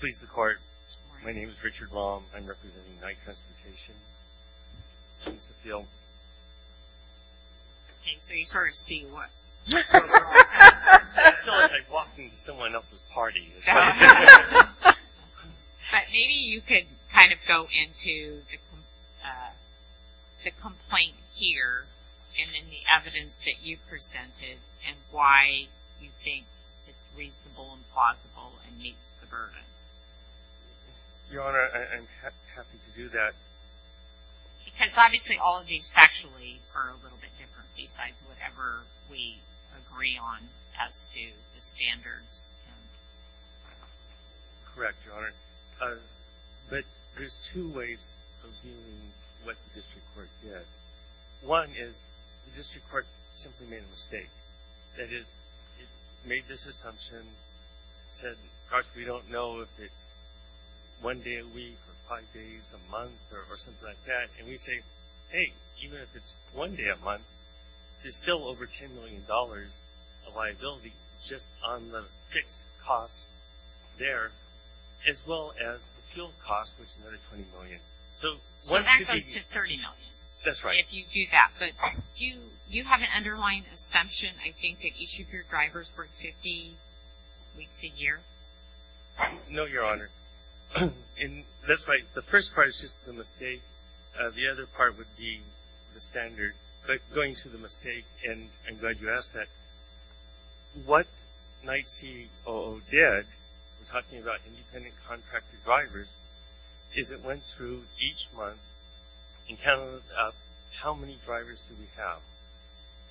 Please the court. My name is Richard Long. I'm representing Knight Transportation. Please appeal. Okay, so you sort of see what... I feel like I've walked into someone else's party. But maybe you could kind of go into the complaint here and then the evidence that you've presented and why you think it's reasonable and plausible and meets the burden. Your Honor, I'm happy to do that. Because obviously all of these actually are a little bit different besides whatever we agree on as to the standards. Correct, Your Honor. But there's two ways of viewing what the district court did. One is the district court simply made a mistake. That is, it made this assumption. It said, gosh, we don't know if it's one day a week or five days a month or something like that. And we say, hey, even if it's one day a month, there's still over $10 million of liability just on the fixed costs there as well as the field costs, which is another $20 million. So that goes to $30 million. That's right. If you do that. But do you have an underlying assumption, I think, that each of your drivers works 50 weeks a year? No, Your Honor. That's right. The first part is just the mistake. The other part would be the standard. But going to the mistake, and I'm glad you asked that. What NYSE COO did, we're talking about independent contractor drivers, is it went through each month and counted up how many drivers do we have.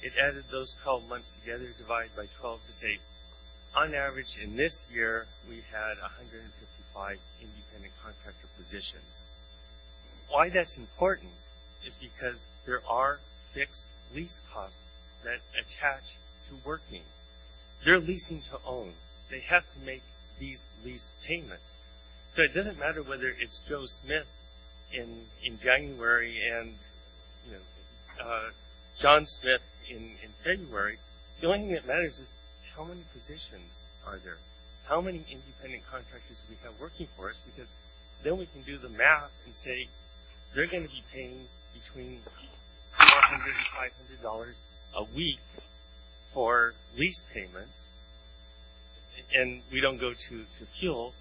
It added those 12 months together, divided by 12 to say, on average in this year, we had 155 independent contractor positions. Why that's important is because there are fixed lease costs that attach to working. They're leasing to own. They have to make these lease payments. So it doesn't matter whether it's Joe Smith in January and John Smith in February. The only thing that matters is how many positions are there? How many independent contractors do we have working for us? Because then we can do the math and say they're going to be paying between $400 and $500 a week for lease payments, and we don't go to fuel.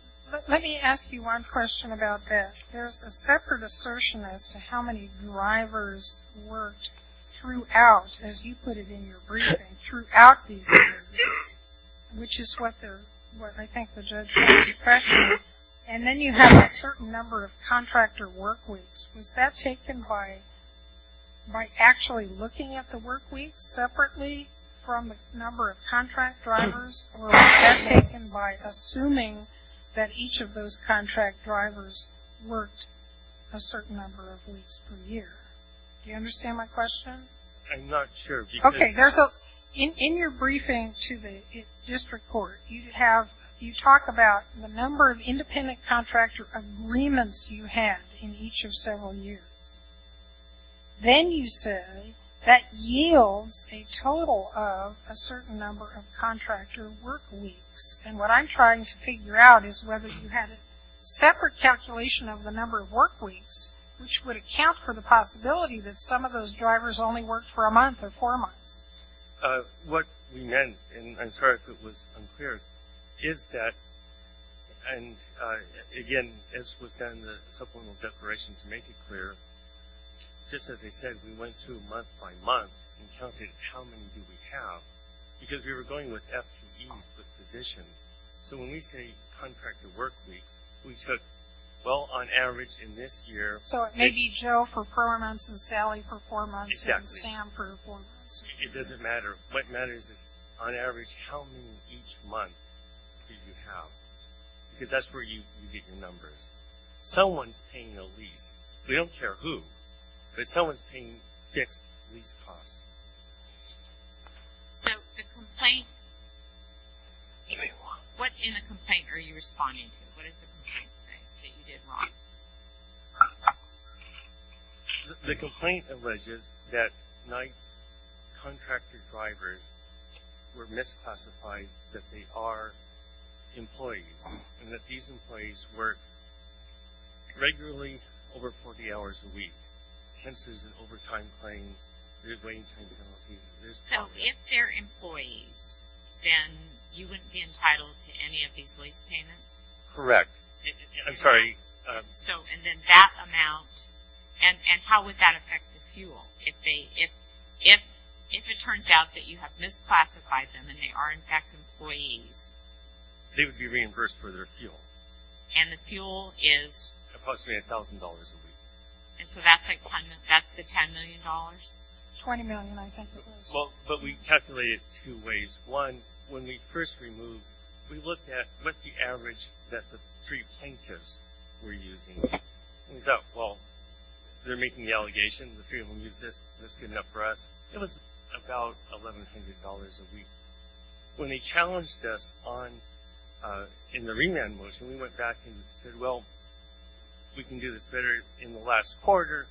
Let me ask you one question about that. There's a separate assertion as to how many drivers worked throughout, as you put it in your briefing, throughout these years, which is what I think the judge is suppressing, and then you have a certain number of contractor work weeks. Was that taken by actually looking at the work weeks separately from the number of contract drivers, or was that taken by assuming that each of those contract drivers worked a certain number of weeks per year? Do you understand my question? I'm not sure. Okay. So in your briefing to the district court, you talk about the number of independent contractor agreements you had in each of several years. Then you say that yields a total of a certain number of contractor work weeks, and what I'm trying to figure out is whether you had a separate calculation of the number of work weeks, which would account for the possibility that some of those drivers only worked for a month or four months. What we meant, and I'm sorry if it was unclear, is that, and again, as was done in the subliminal declaration to make it clear, just as I said, we went through month by month and counted how many do we have, because we were going with FTEs with positions. So when we say contractor work weeks, we took, well, on average in this year. So it may be Joe for four months and Sally for four months and Sam for four months. It doesn't matter. What matters is, on average, how many each month did you have? Because that's where you get your numbers. Someone's paying a lease. We don't care who, but someone's paying fixed lease costs. So the complaint, what in the complaint are you responding to? What is the complaint that you did wrong? The complaint alleges that Knight's contractor drivers were misclassified, that they are employees, and that these employees work regularly over 40 hours a week. Hence, there's an overtime claim. So if they're employees, then you wouldn't be entitled to any of these lease payments? Correct. I'm sorry. So and then that amount, and how would that affect the fuel? If it turns out that you have misclassified them and they are, in fact, employees. They would be reimbursed for their fuel. And the fuel is? Approximately $1,000 a week. And so that's the $10 million? $20 million, I think it was. But we calculated it two ways. One, when we first removed, we looked at what the average that the three plaintiffs were using. We thought, well, they're making the allegation. The three of them used this. This is good enough for us. It was about $1,100 a week. When they challenged us in the remand motion, we went back and said, well, we can do this better in the last quarter.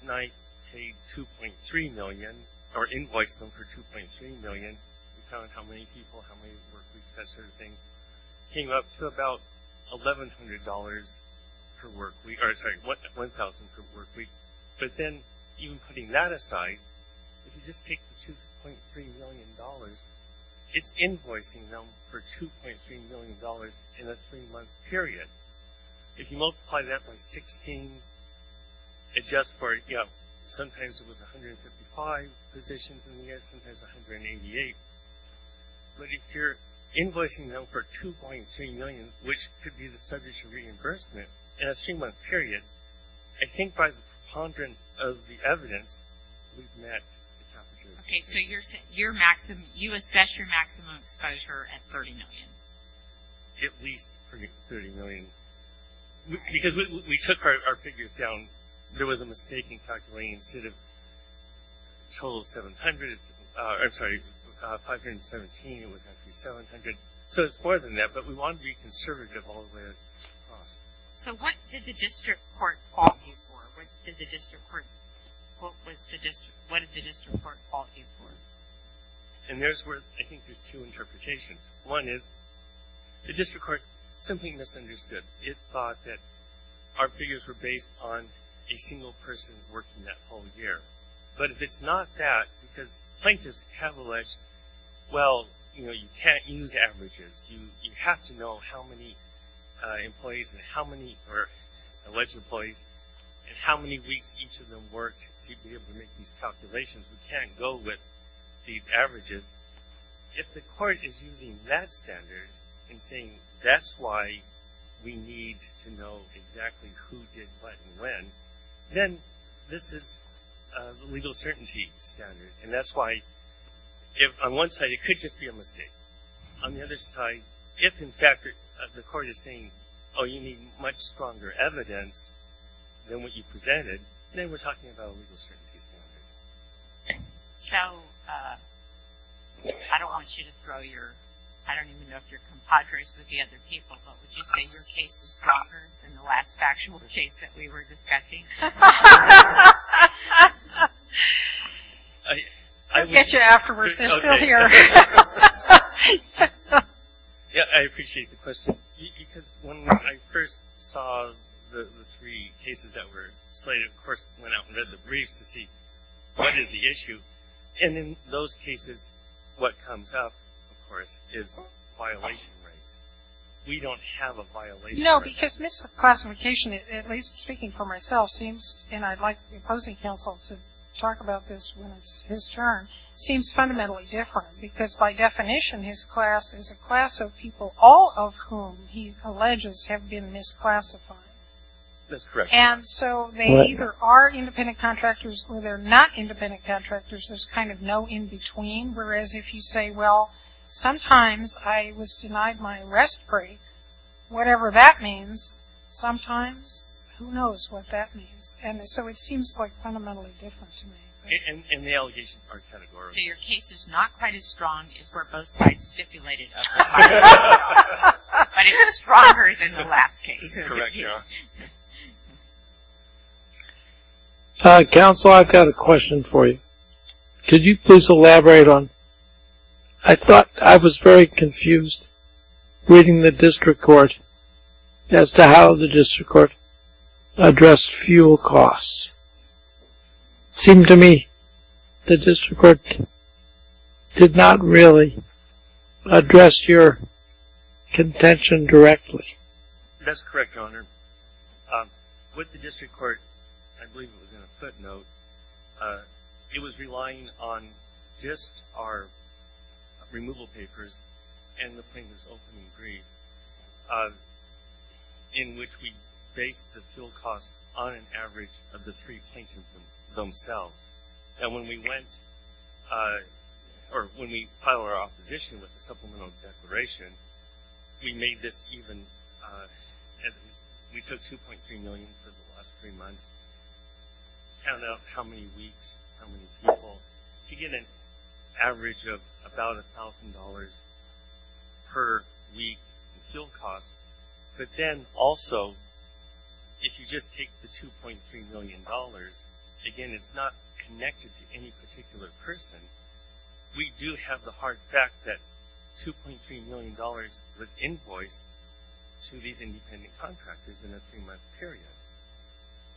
And I paid $2.3 million or invoiced them for $2.3 million. We counted how many people, how many work weeks, that sort of thing. It came up to about $1,100 per work week. Or, sorry, $1,000 per work week. But then even putting that aside, if you just take the $2.3 million, it's invoicing them for $2.3 million in a three-month period. If you multiply that by 16, it's just for, you know, sometimes it was 155 positions, and sometimes 188. But if you're invoicing them for $2.3 million, which could be the subject of reimbursement in a three-month period, I think by the preponderance of the evidence, we've met the cap. Okay, so you assess your maximum exposure at $30 million? At least $30 million. Because we took our figures down. There was a mistake in calculating. Instead of a total of 700, I'm sorry, 517, it was actually 700. So it's more than that. But we wanted to be conservative all the way across. So what did the district court call you for? What did the district court call you for? And there's where I think there's two interpretations. One is the district court simply misunderstood. It thought that our figures were based on a single person working that whole year. But if it's not that, because plaintiffs have alleged, well, you know, you can't use averages, you have to know how many employees or alleged employees and how many weeks each of them worked to be able to make these calculations. We can't go with these averages. If the court is using that standard and saying that's why we need to know exactly who did what and when, then this is a legal certainty standard. And that's why on one side it could just be a mistake. On the other side, if in fact the court is saying, oh, you need much stronger evidence than what you presented, then we're talking about a legal certainty standard. So I don't want you to throw your, I don't even know if you're compadres with the other people, but would you say your case is stronger than the last factual case that we were discussing? I'll get you afterwards. They're still here. Yeah, I appreciate the question. Because when I first saw the three cases that were slated, of course, went out and read the briefs to see what is the issue. And in those cases what comes up, of course, is violation rate. We don't have a violation rate. No, because misclassification, at least speaking for myself, seems, and I'd like the opposing counsel to talk about this when it's his turn, seems fundamentally different because by definition his class is a class of people, all of whom he alleges have been misclassified. That's correct. And so they either are independent contractors or they're not independent contractors. There's kind of no in-between. Whereas if you say, well, sometimes I was denied my rest break, whatever that means, sometimes who knows what that means. And so it seems like fundamentally different to me. And the allegations are categorical. So your case is not quite as strong as where both sides stipulated. But it's stronger than the last case. Correct, yeah. Counsel, I've got a question for you. Could you please elaborate on, I thought I was very confused reading the district court as to how the district court addressed fuel costs. It seemed to me the district court did not really address your contention directly. That's correct, Your Honor. With the district court, I believe it was in a footnote, it was relying on just our removal papers and the plaintiff's opening brief, in which we based the fuel costs on an average of the three plaintiffs themselves. And when we went, or when we filed our opposition with the supplemental declaration, we made this even, we took $2.3 million for the last three months, to count out how many weeks, how many people, to get an average of about $1,000 per week in fuel costs. But then also, if you just take the $2.3 million, again, it's not connected to any particular person. We do have the hard fact that $2.3 million was invoiced to these independent contractors in a three-month period.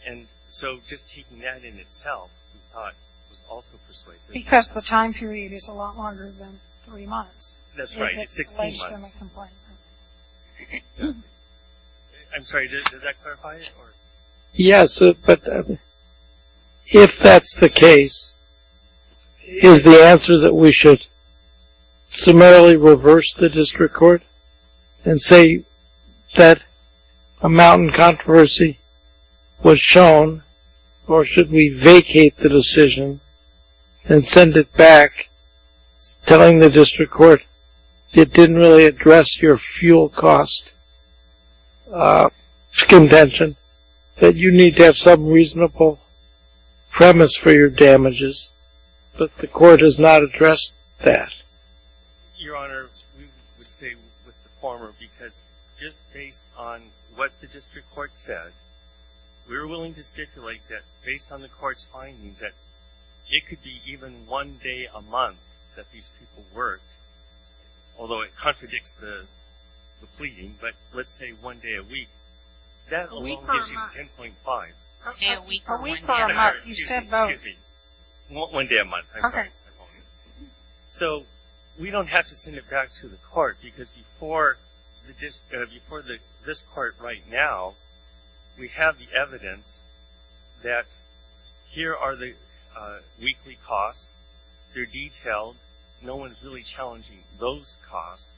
And so just taking that in itself, we thought was also persuasive. Because the time period is a lot longer than three months. That's right, it's 16 months. I'm sorry, does that clarify it? Yes, but if that's the case, is the answer that we should summarily reverse the district court and say that a mountain controversy was shown, or should we vacate the decision and send it back, telling the district court it didn't really address your fuel cost contention, that you need to have some reasonable premise for your damages, but the court has not addressed that? Your Honor, we would say with the former, because just based on what the district court said, we were willing to stipulate that based on the court's findings, that it could be even one day a month that these people worked, although it contradicts the pleading, but let's say one day a week. That alone gives you 10.5. A week or a month, you said both. One day a month, I apologize. So we don't have to send it back to the court, because before this court right now, we have the evidence that here are the weekly costs. They're detailed. No one is really challenging those costs,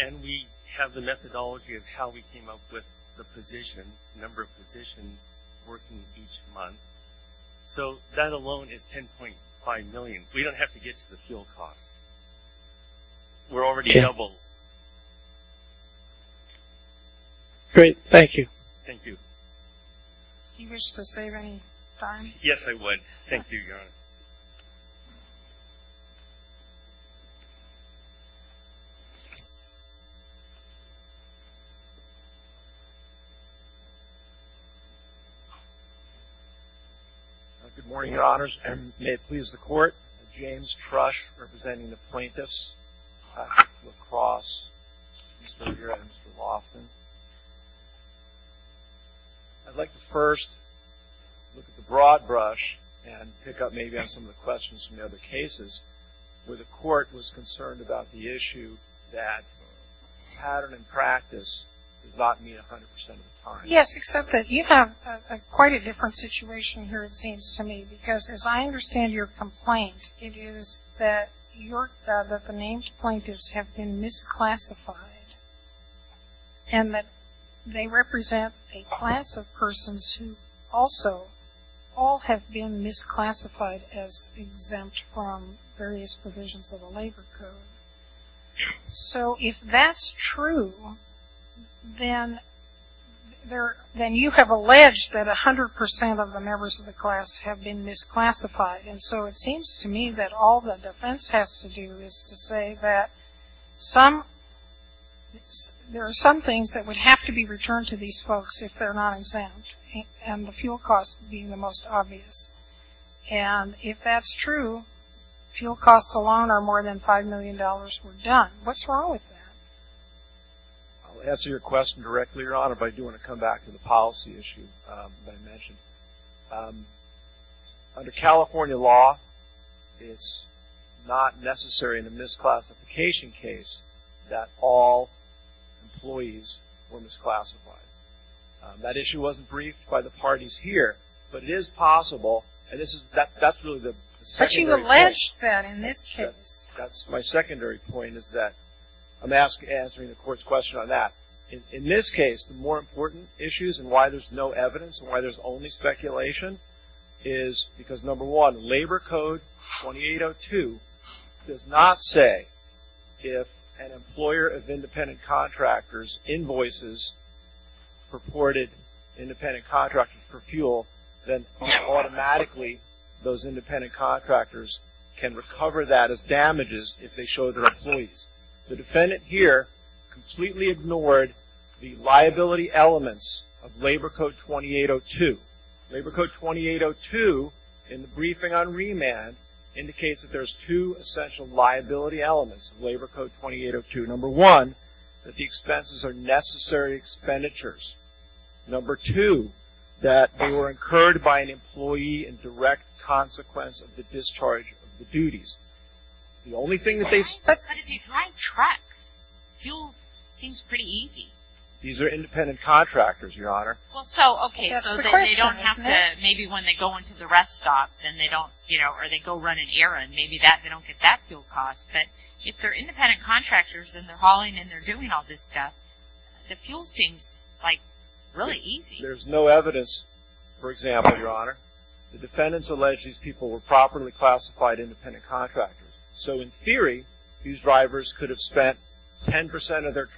and we have the methodology of how we came up with the position, number of positions working each month. So that alone is 10.5 million. We don't have to get to the fuel costs. We're already double. Great. Thank you. Thank you. Do you wish to save any time? Yes, I would. Thank you, Your Honor. Thank you. Good morning, Your Honors, and may it please the court, James Trush representing the plaintiffs, Patrick LaCrosse, and Mr. Laughlin. I'd like to first look at the broad brush and pick up maybe on some of the questions from the other cases where the court was concerned about the issue that pattern and practice does not mean 100% of the time. Yes, except that you have quite a different situation here, it seems to me, because as I understand your complaint, it is that the named plaintiffs have been misclassified and that they represent a class of persons who also all have been misclassified as exempt from various provisions of the labor code. So if that's true, then you have alleged that 100% of the members of the class have been misclassified. And so it seems to me that all the defense has to do is to say that there are some things that would have to be returned to these folks if they're not exempt, and the fuel cost being the most obvious. And if that's true, fuel costs alone are more than $5 million were done. What's wrong with that? I'll answer your question directly, Your Honor, but I do want to come back to the policy issue that I mentioned. Under California law, it's not necessary in a misclassification case that all employees were misclassified. That issue wasn't briefed by the parties here, but it is possible, and that's really the secondary point. But you alleged that in this case. That's my secondary point, is that I'm answering the court's question on that. In this case, the more important issues and why there's no evidence and why there's only speculation is because, number one, Labor Code 2802 does not say if an employer of independent contractors invoices purported independent contractors for fuel, then automatically those independent contractors can recover that as damages if they show their employees. The defendant here completely ignored the liability elements of Labor Code 2802. Labor Code 2802 in the briefing on remand indicates that there's two essential liability elements of Labor Code 2802. Number one, that the expenses are necessary expenditures. Number two, that they were incurred by an employee in direct consequence of the discharge of the duties. The only thing that they... But if you drive trucks, fuel seems pretty easy. These are independent contractors, Your Honor. Well, so, okay, so they don't have to... That's the question, isn't it? Maybe when they go into the rest stop, then they don't, you know, or they go run an errand, maybe they don't get that fuel cost. But if they're independent contractors and they're hauling and they're doing all this stuff, the fuel seems, like, really easy. There's no evidence, for example, Your Honor, the defendants allege these people were properly classified independent contractors. So, in theory, these drivers could have spent 10% of their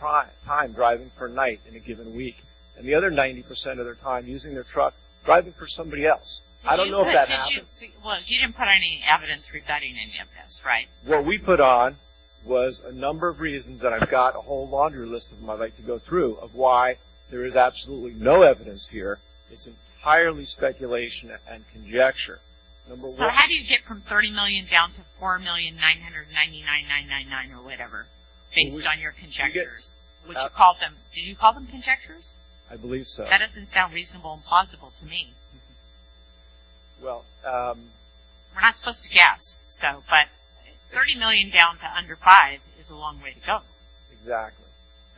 time driving for a night in a given week and the other 90% of their time using their truck driving for somebody else. I don't know if that happens. Well, you didn't put any evidence regarding any of this, right? What we put on was a number of reasons that I've got a whole laundry list of them I'd like to go through of why there is absolutely no evidence here. It's entirely speculation and conjecture. So how do you get from 30 million down to 4,999,999 or whatever, based on your conjectures? Did you call them conjectures? I believe so. That doesn't sound reasonable and plausible to me. Well, um... We're not supposed to guess, so, but 30 million down to under 5 is a long way to go. Exactly.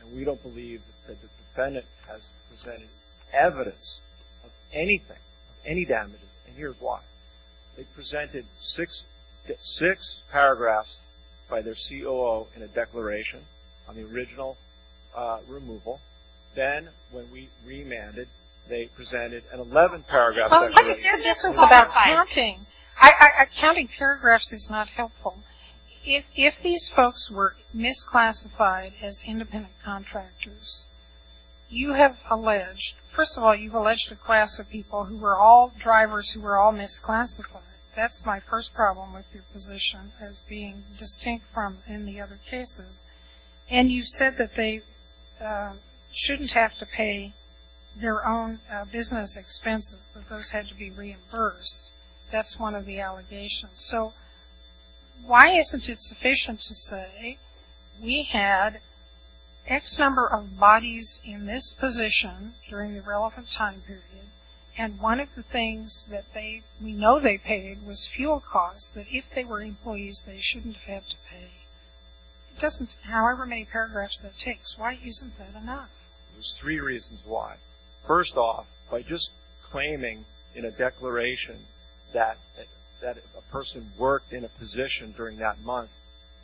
And we don't believe that the defendant has presented evidence of anything, of any damages, and here's why. They presented six paragraphs by their COO in a declaration on the original removal. Then when we remanded, they presented an 11-paragraph declaration. What is their business about counting? Counting paragraphs is not helpful. If these folks were misclassified as independent contractors, you have alleged, first of all, you've alleged a class of people who were all drivers, who were all misclassified. That's my first problem with your position as being distinct from any other cases. And you've said that they shouldn't have to pay their own business expenses, that those had to be reimbursed. That's one of the allegations. So why isn't it sufficient to say we had X number of bodies in this position during the relevant time period, and one of the things that they, we know they paid, was fuel costs that if they were employees, they shouldn't have to pay? It doesn't, however many paragraphs that it takes, why isn't that enough? There's three reasons why. First off, by just claiming in a declaration that a person worked in a position during that month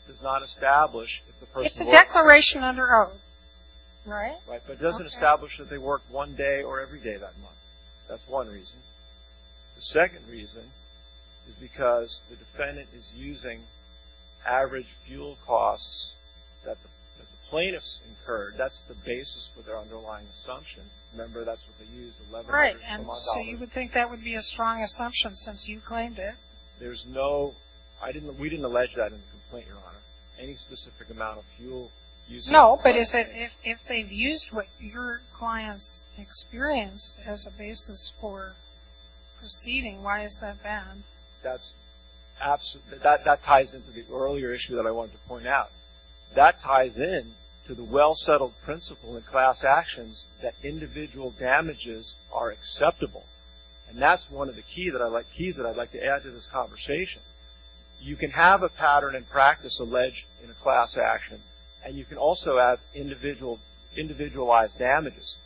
does not establish if the person worked... It's a declaration under oath, right? Right, but it doesn't establish that they worked one day or every day that month. That's one reason. The second reason is because the defendant is using average fuel costs that the plaintiffs incurred. That's the basis for their underlying assumption. Remember, that's what they used, $1,100. Right, and so you would think that would be a strong assumption since you claimed it? There's no... We didn't allege that in the complaint, Your Honor. Any specific amount of fuel used... No, but if they've used what your clients experienced as a basis for proceeding, why is that bad? That ties into the earlier issue that I wanted to point out. That ties in to the well-settled principle in class actions that individual damages are acceptable, and that's one of the keys that I'd like to add to this conversation. You can have a pattern and practice alleged in a class action, and you can also have individualized damages,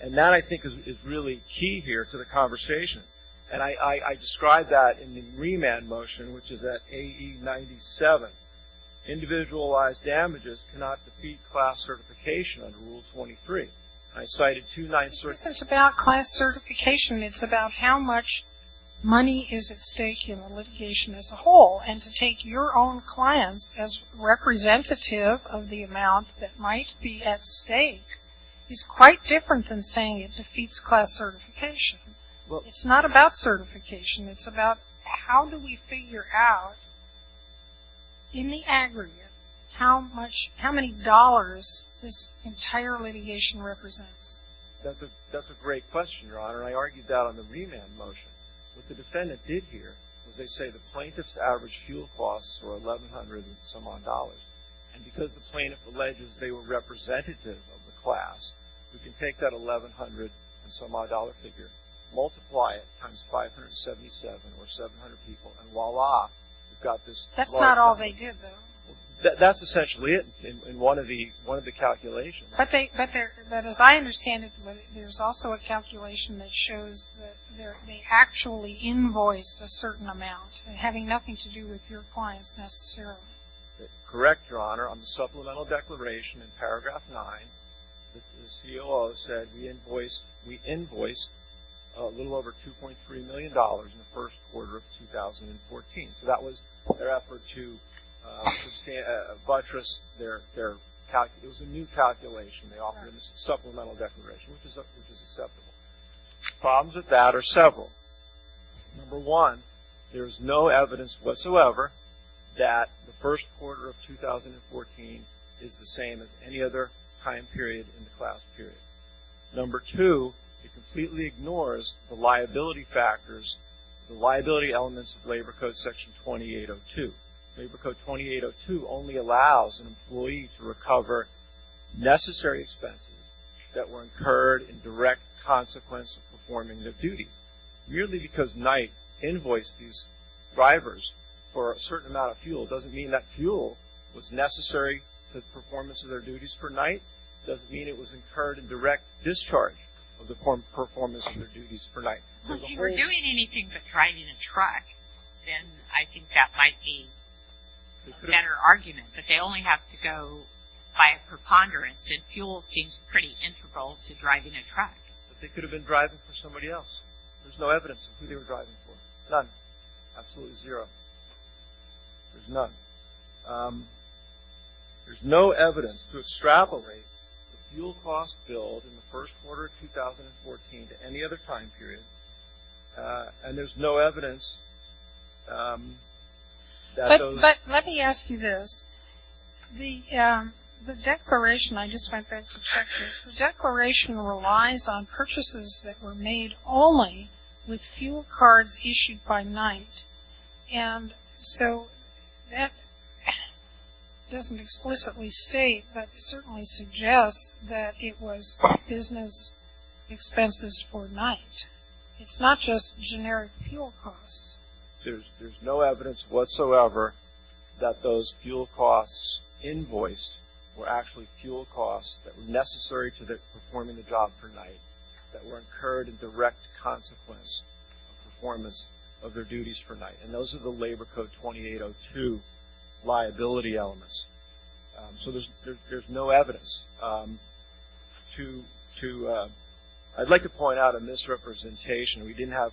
and that, I think, is really key here to the conversation, and I described that in the remand motion, which is at AE 97. Individualized damages cannot defeat class certification under Rule 23. I cited two nice... This isn't about class certification. It's about how much money is at stake in litigation as a whole, and to take your own clients as representative of the amount that might be at stake is quite different than saying it defeats class certification. It's not about certification. It's about how do we figure out, in the aggregate, how many dollars this entire litigation represents. That's a great question, Your Honor, and I argued that on the remand motion. What the defendant did here was they say the plaintiff's average fuel costs were $1,100-and-some-odd, and because the plaintiff alleges they were representative of the class, we can take that $1,100-and-some-odd figure, multiply it times 577, or 700 people, and voila, we've got this... That's not all they did, though. That's essentially it in one of the calculations. But as I understand it, there's also a calculation that shows that they actually invoiced a certain amount, having nothing to do with your clients necessarily. Correct, Your Honor. On the supplemental declaration in paragraph 9, the COO said we invoiced a little over $2.3 million in the first quarter of 2014. So that was their effort to buttress their... It was a new calculation they offered in the supplemental declaration, which is acceptable. Problems with that are several. Number one, there is no evidence whatsoever that the first quarter of 2014 is the same as any other time period in the class period. Number two, it completely ignores the liability factors, the liability elements of Labor Code Section 2802. Labor Code 2802 only allows an employee to recover necessary expenses that were incurred in direct consequence of performing their duties. Merely because Knight invoiced these drivers for a certain amount of fuel doesn't mean that fuel was necessary to the performance of their duties for Knight. Doesn't mean it was incurred in direct discharge of the performance of their duties for Knight. If you were doing anything but driving a truck, then I think that might be a better argument. But they only have to go by a preponderance, and fuel seems pretty integral to driving a truck. But they could have been driving for somebody else. There's no evidence of who they were driving for. None. Absolutely zero. There's none. There's no evidence to extrapolate the fuel cost bill in the first quarter of 2014 to any other time period, and there's no evidence that those. But let me ask you this. The declaration, I just went back to check this. The declaration relies on purchases that were made only with fuel cards issued by Knight, and so that doesn't explicitly state, but certainly suggests that it was business expenses for Knight. It's not just generic fuel costs. There's no evidence whatsoever that those fuel costs invoiced were actually fuel costs that were necessary to performing the job for Knight, that were incurred in direct consequence of performance of their duties for Knight, and those are the Labor Code 2802 liability elements. So there's no evidence. I'd like to point out a misrepresentation. We didn't have a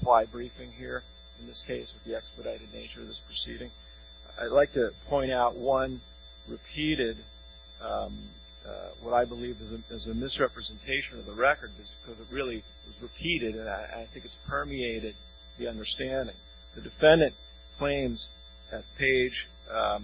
reply briefing here in this case with the expedited nature of this proceeding. I'd like to point out one repeated what I believe is a misrepresentation of the record because it really was repeated, and I think it's permeated the understanding. The defendant claims at page... The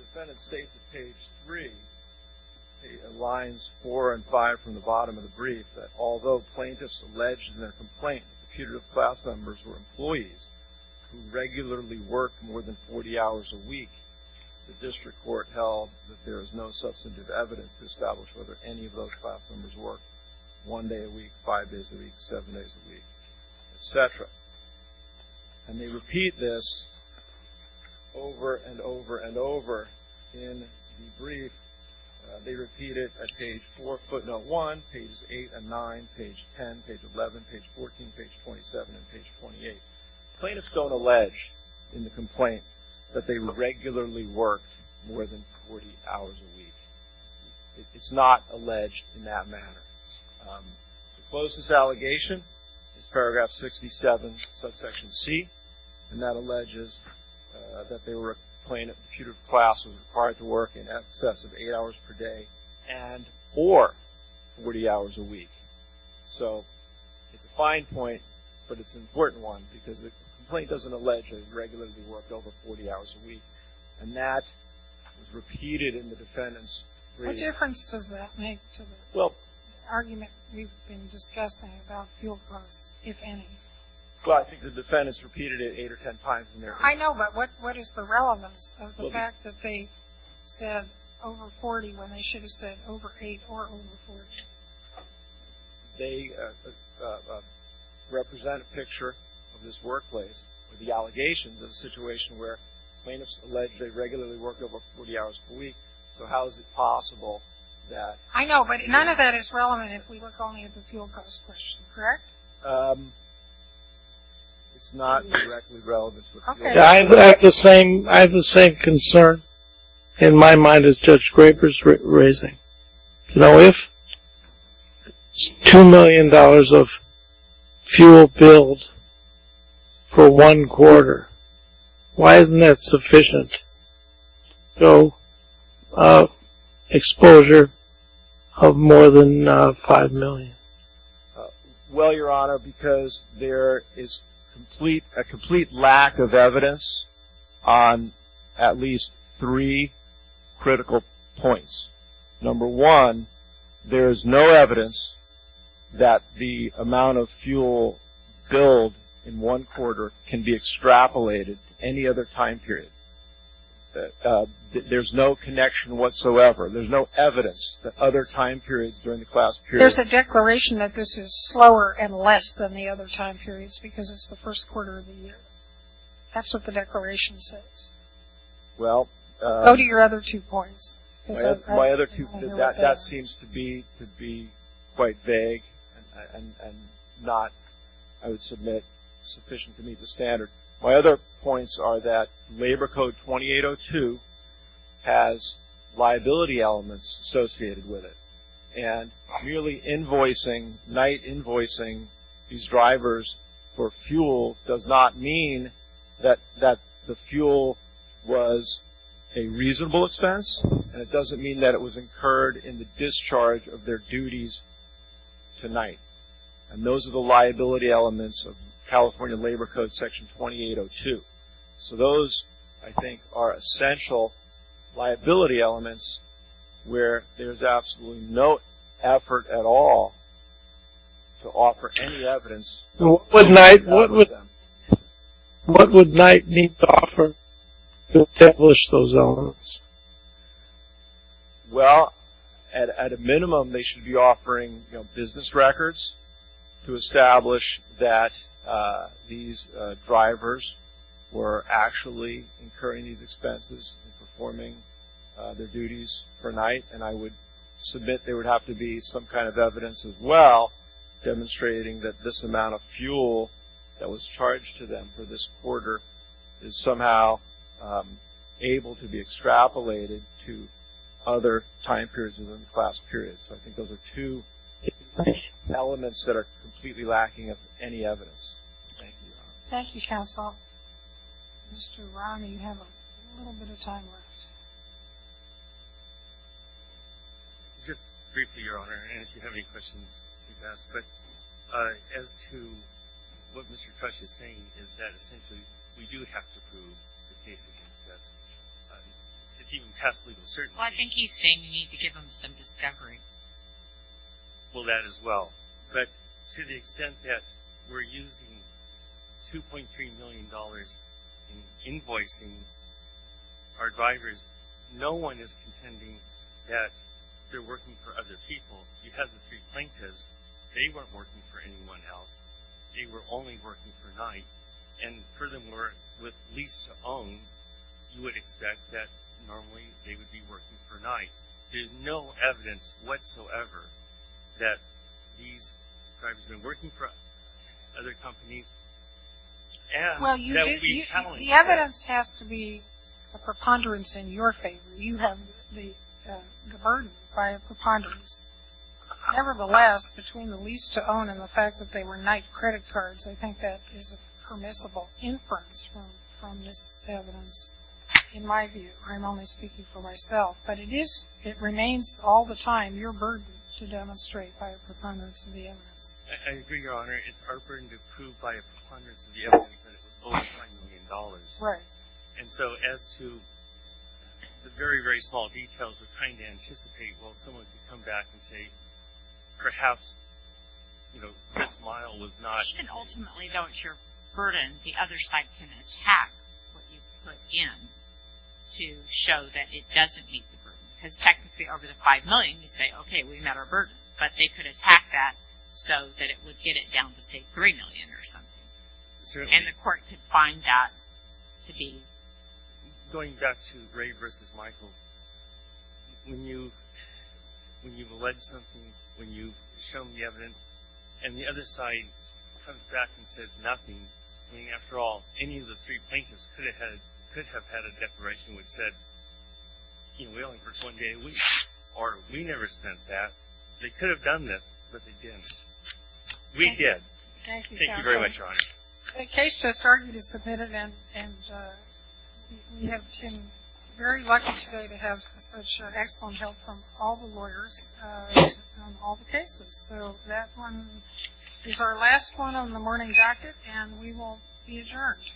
defendant states at page 3, lines 4 and 5 from the bottom of the brief, that although plaintiffs alleged in their complaint that computer class members were employees who regularly worked more than 40 hours a week, the district court held that there is no substantive evidence to establish whether any of those class members worked one day a week, five days a week, seven days a week, etc. And they repeat this over and over and over in the brief. They repeat it at page 4, footnote 1, pages 8 and 9, page 10, page 11, page 14, page 27, and page 28. Plaintiffs don't allege in the complaint that they regularly worked more than 40 hours a week. It's not alleged in that manner. The closest allegation is paragraph 67, subsection C, and that alleges that they were a plaintiff whose computer class was required to work in excess of eight hours per day and or 40 hours a week. So it's a fine point, but it's an important one because the complaint doesn't allege that they regularly worked over 40 hours a week. And that is repeated in the defendant's brief. What difference does that make to the argument we've been discussing about field clubs, if any? Well, I think the defendants repeated it eight or ten times in their brief. I know, but what is the relevance of the fact that they said over 40 when they should have said over eight or over 40? They represent a picture of this workplace with the allegations of a situation where plaintiffs allege they regularly worked over 40 hours per week. So how is it possible that? I know, but none of that is relevant if we look only at the field club's question, correct? It's not directly relevant. I have the same concern in my mind as Judge Graper's raising. Now, if $2 million of fuel billed for one quarter, why isn't that sufficient to go exposure of more than $5 million? Well, Your Honor, because there is a complete lack of evidence on at least three critical points. Number one, there is no evidence that the amount of fuel billed in one quarter can be extrapolated to any other time period. There's no connection whatsoever. There's no evidence that other time periods during the class period There's a declaration that this is slower and less than the other time periods because it's the first quarter of the year. That's what the declaration says. Go to your other two points. That seems to be quite vague and not, I would submit, sufficient to meet the standard. My other points are that Labor Code 2802 has liability elements associated with it and really night invoicing these drivers for fuel does not mean that the fuel was a reasonable expense and it doesn't mean that it was incurred in the discharge of their duties tonight. And those are the liability elements of California Labor Code Section 2802. So those, I think, are essential liability elements where there's absolutely no effort at all to offer any evidence. What would Knight need to offer to establish those elements? Well, at a minimum, they should be offering business records to establish that these drivers were actually incurring these expenses and performing their duties per night. And I would submit there would have to be some kind of evidence as well demonstrating that this amount of fuel that was charged to them for this quarter is somehow able to be extrapolated to other time periods within the class period. So I think those are two elements that are completely lacking of any evidence. Thank you, Your Honor. Thank you, Counsel. Mr. Romney, you have a little bit of time left. Just briefly, Your Honor, and if you have any questions, please ask. But as to what Mr. Crutch is saying is that essentially we do have to prove the case against us. It's even past legal certainty. Well, I think he's saying we need to give them some discovery. Well, that as well. But to the extent that we're using $2.3 million in invoicing our drivers, no one is contending that they're working for other people. You have the three plaintiffs. They weren't working for anyone else. They were only working per night. And furthermore, with lease-to-own, you would expect that normally they would be working per night. There's no evidence whatsoever that these drivers have been working for other companies. The evidence has to be a preponderance in your favor. You have the burden by a preponderance. Nevertheless, between the lease-to-own and the fact that they were night credit cards, I think that is a permissible inference from this evidence. In my view, I'm only speaking for myself, but it remains all the time your burden to demonstrate by a preponderance of the evidence. I agree, Your Honor. It's our burden to prove by a preponderance of the evidence that it was over $2 million. Right. And so as to the very, very small details of trying to anticipate, well, someone could come back and say, perhaps, you know, this mile was not. Well, even ultimately, though it's your burden, the other side can attack what you put in to show that it doesn't meet the burden. Because technically, over the $5 million, you say, okay, we met our burden. But they could attack that so that it would get it down to, say, $3 million or something. Certainly. And the court could find that to be. Going back to Ray versus Michael, when you've alleged something, when you've shown the evidence, and the other side comes back and says nothing. I mean, after all, any of the three plaintiffs could have had a declaration which said, you know, we only purchased one day a week, or we never spent that. They could have done this, but they didn't. We did. Thank you, counsel. Thank you very much, Your Honor. A case just argued is submitted, and we have been very lucky today to have such excellent help from all the lawyers on all the cases. So that one is our last one on the morning docket, and we will be adjourned.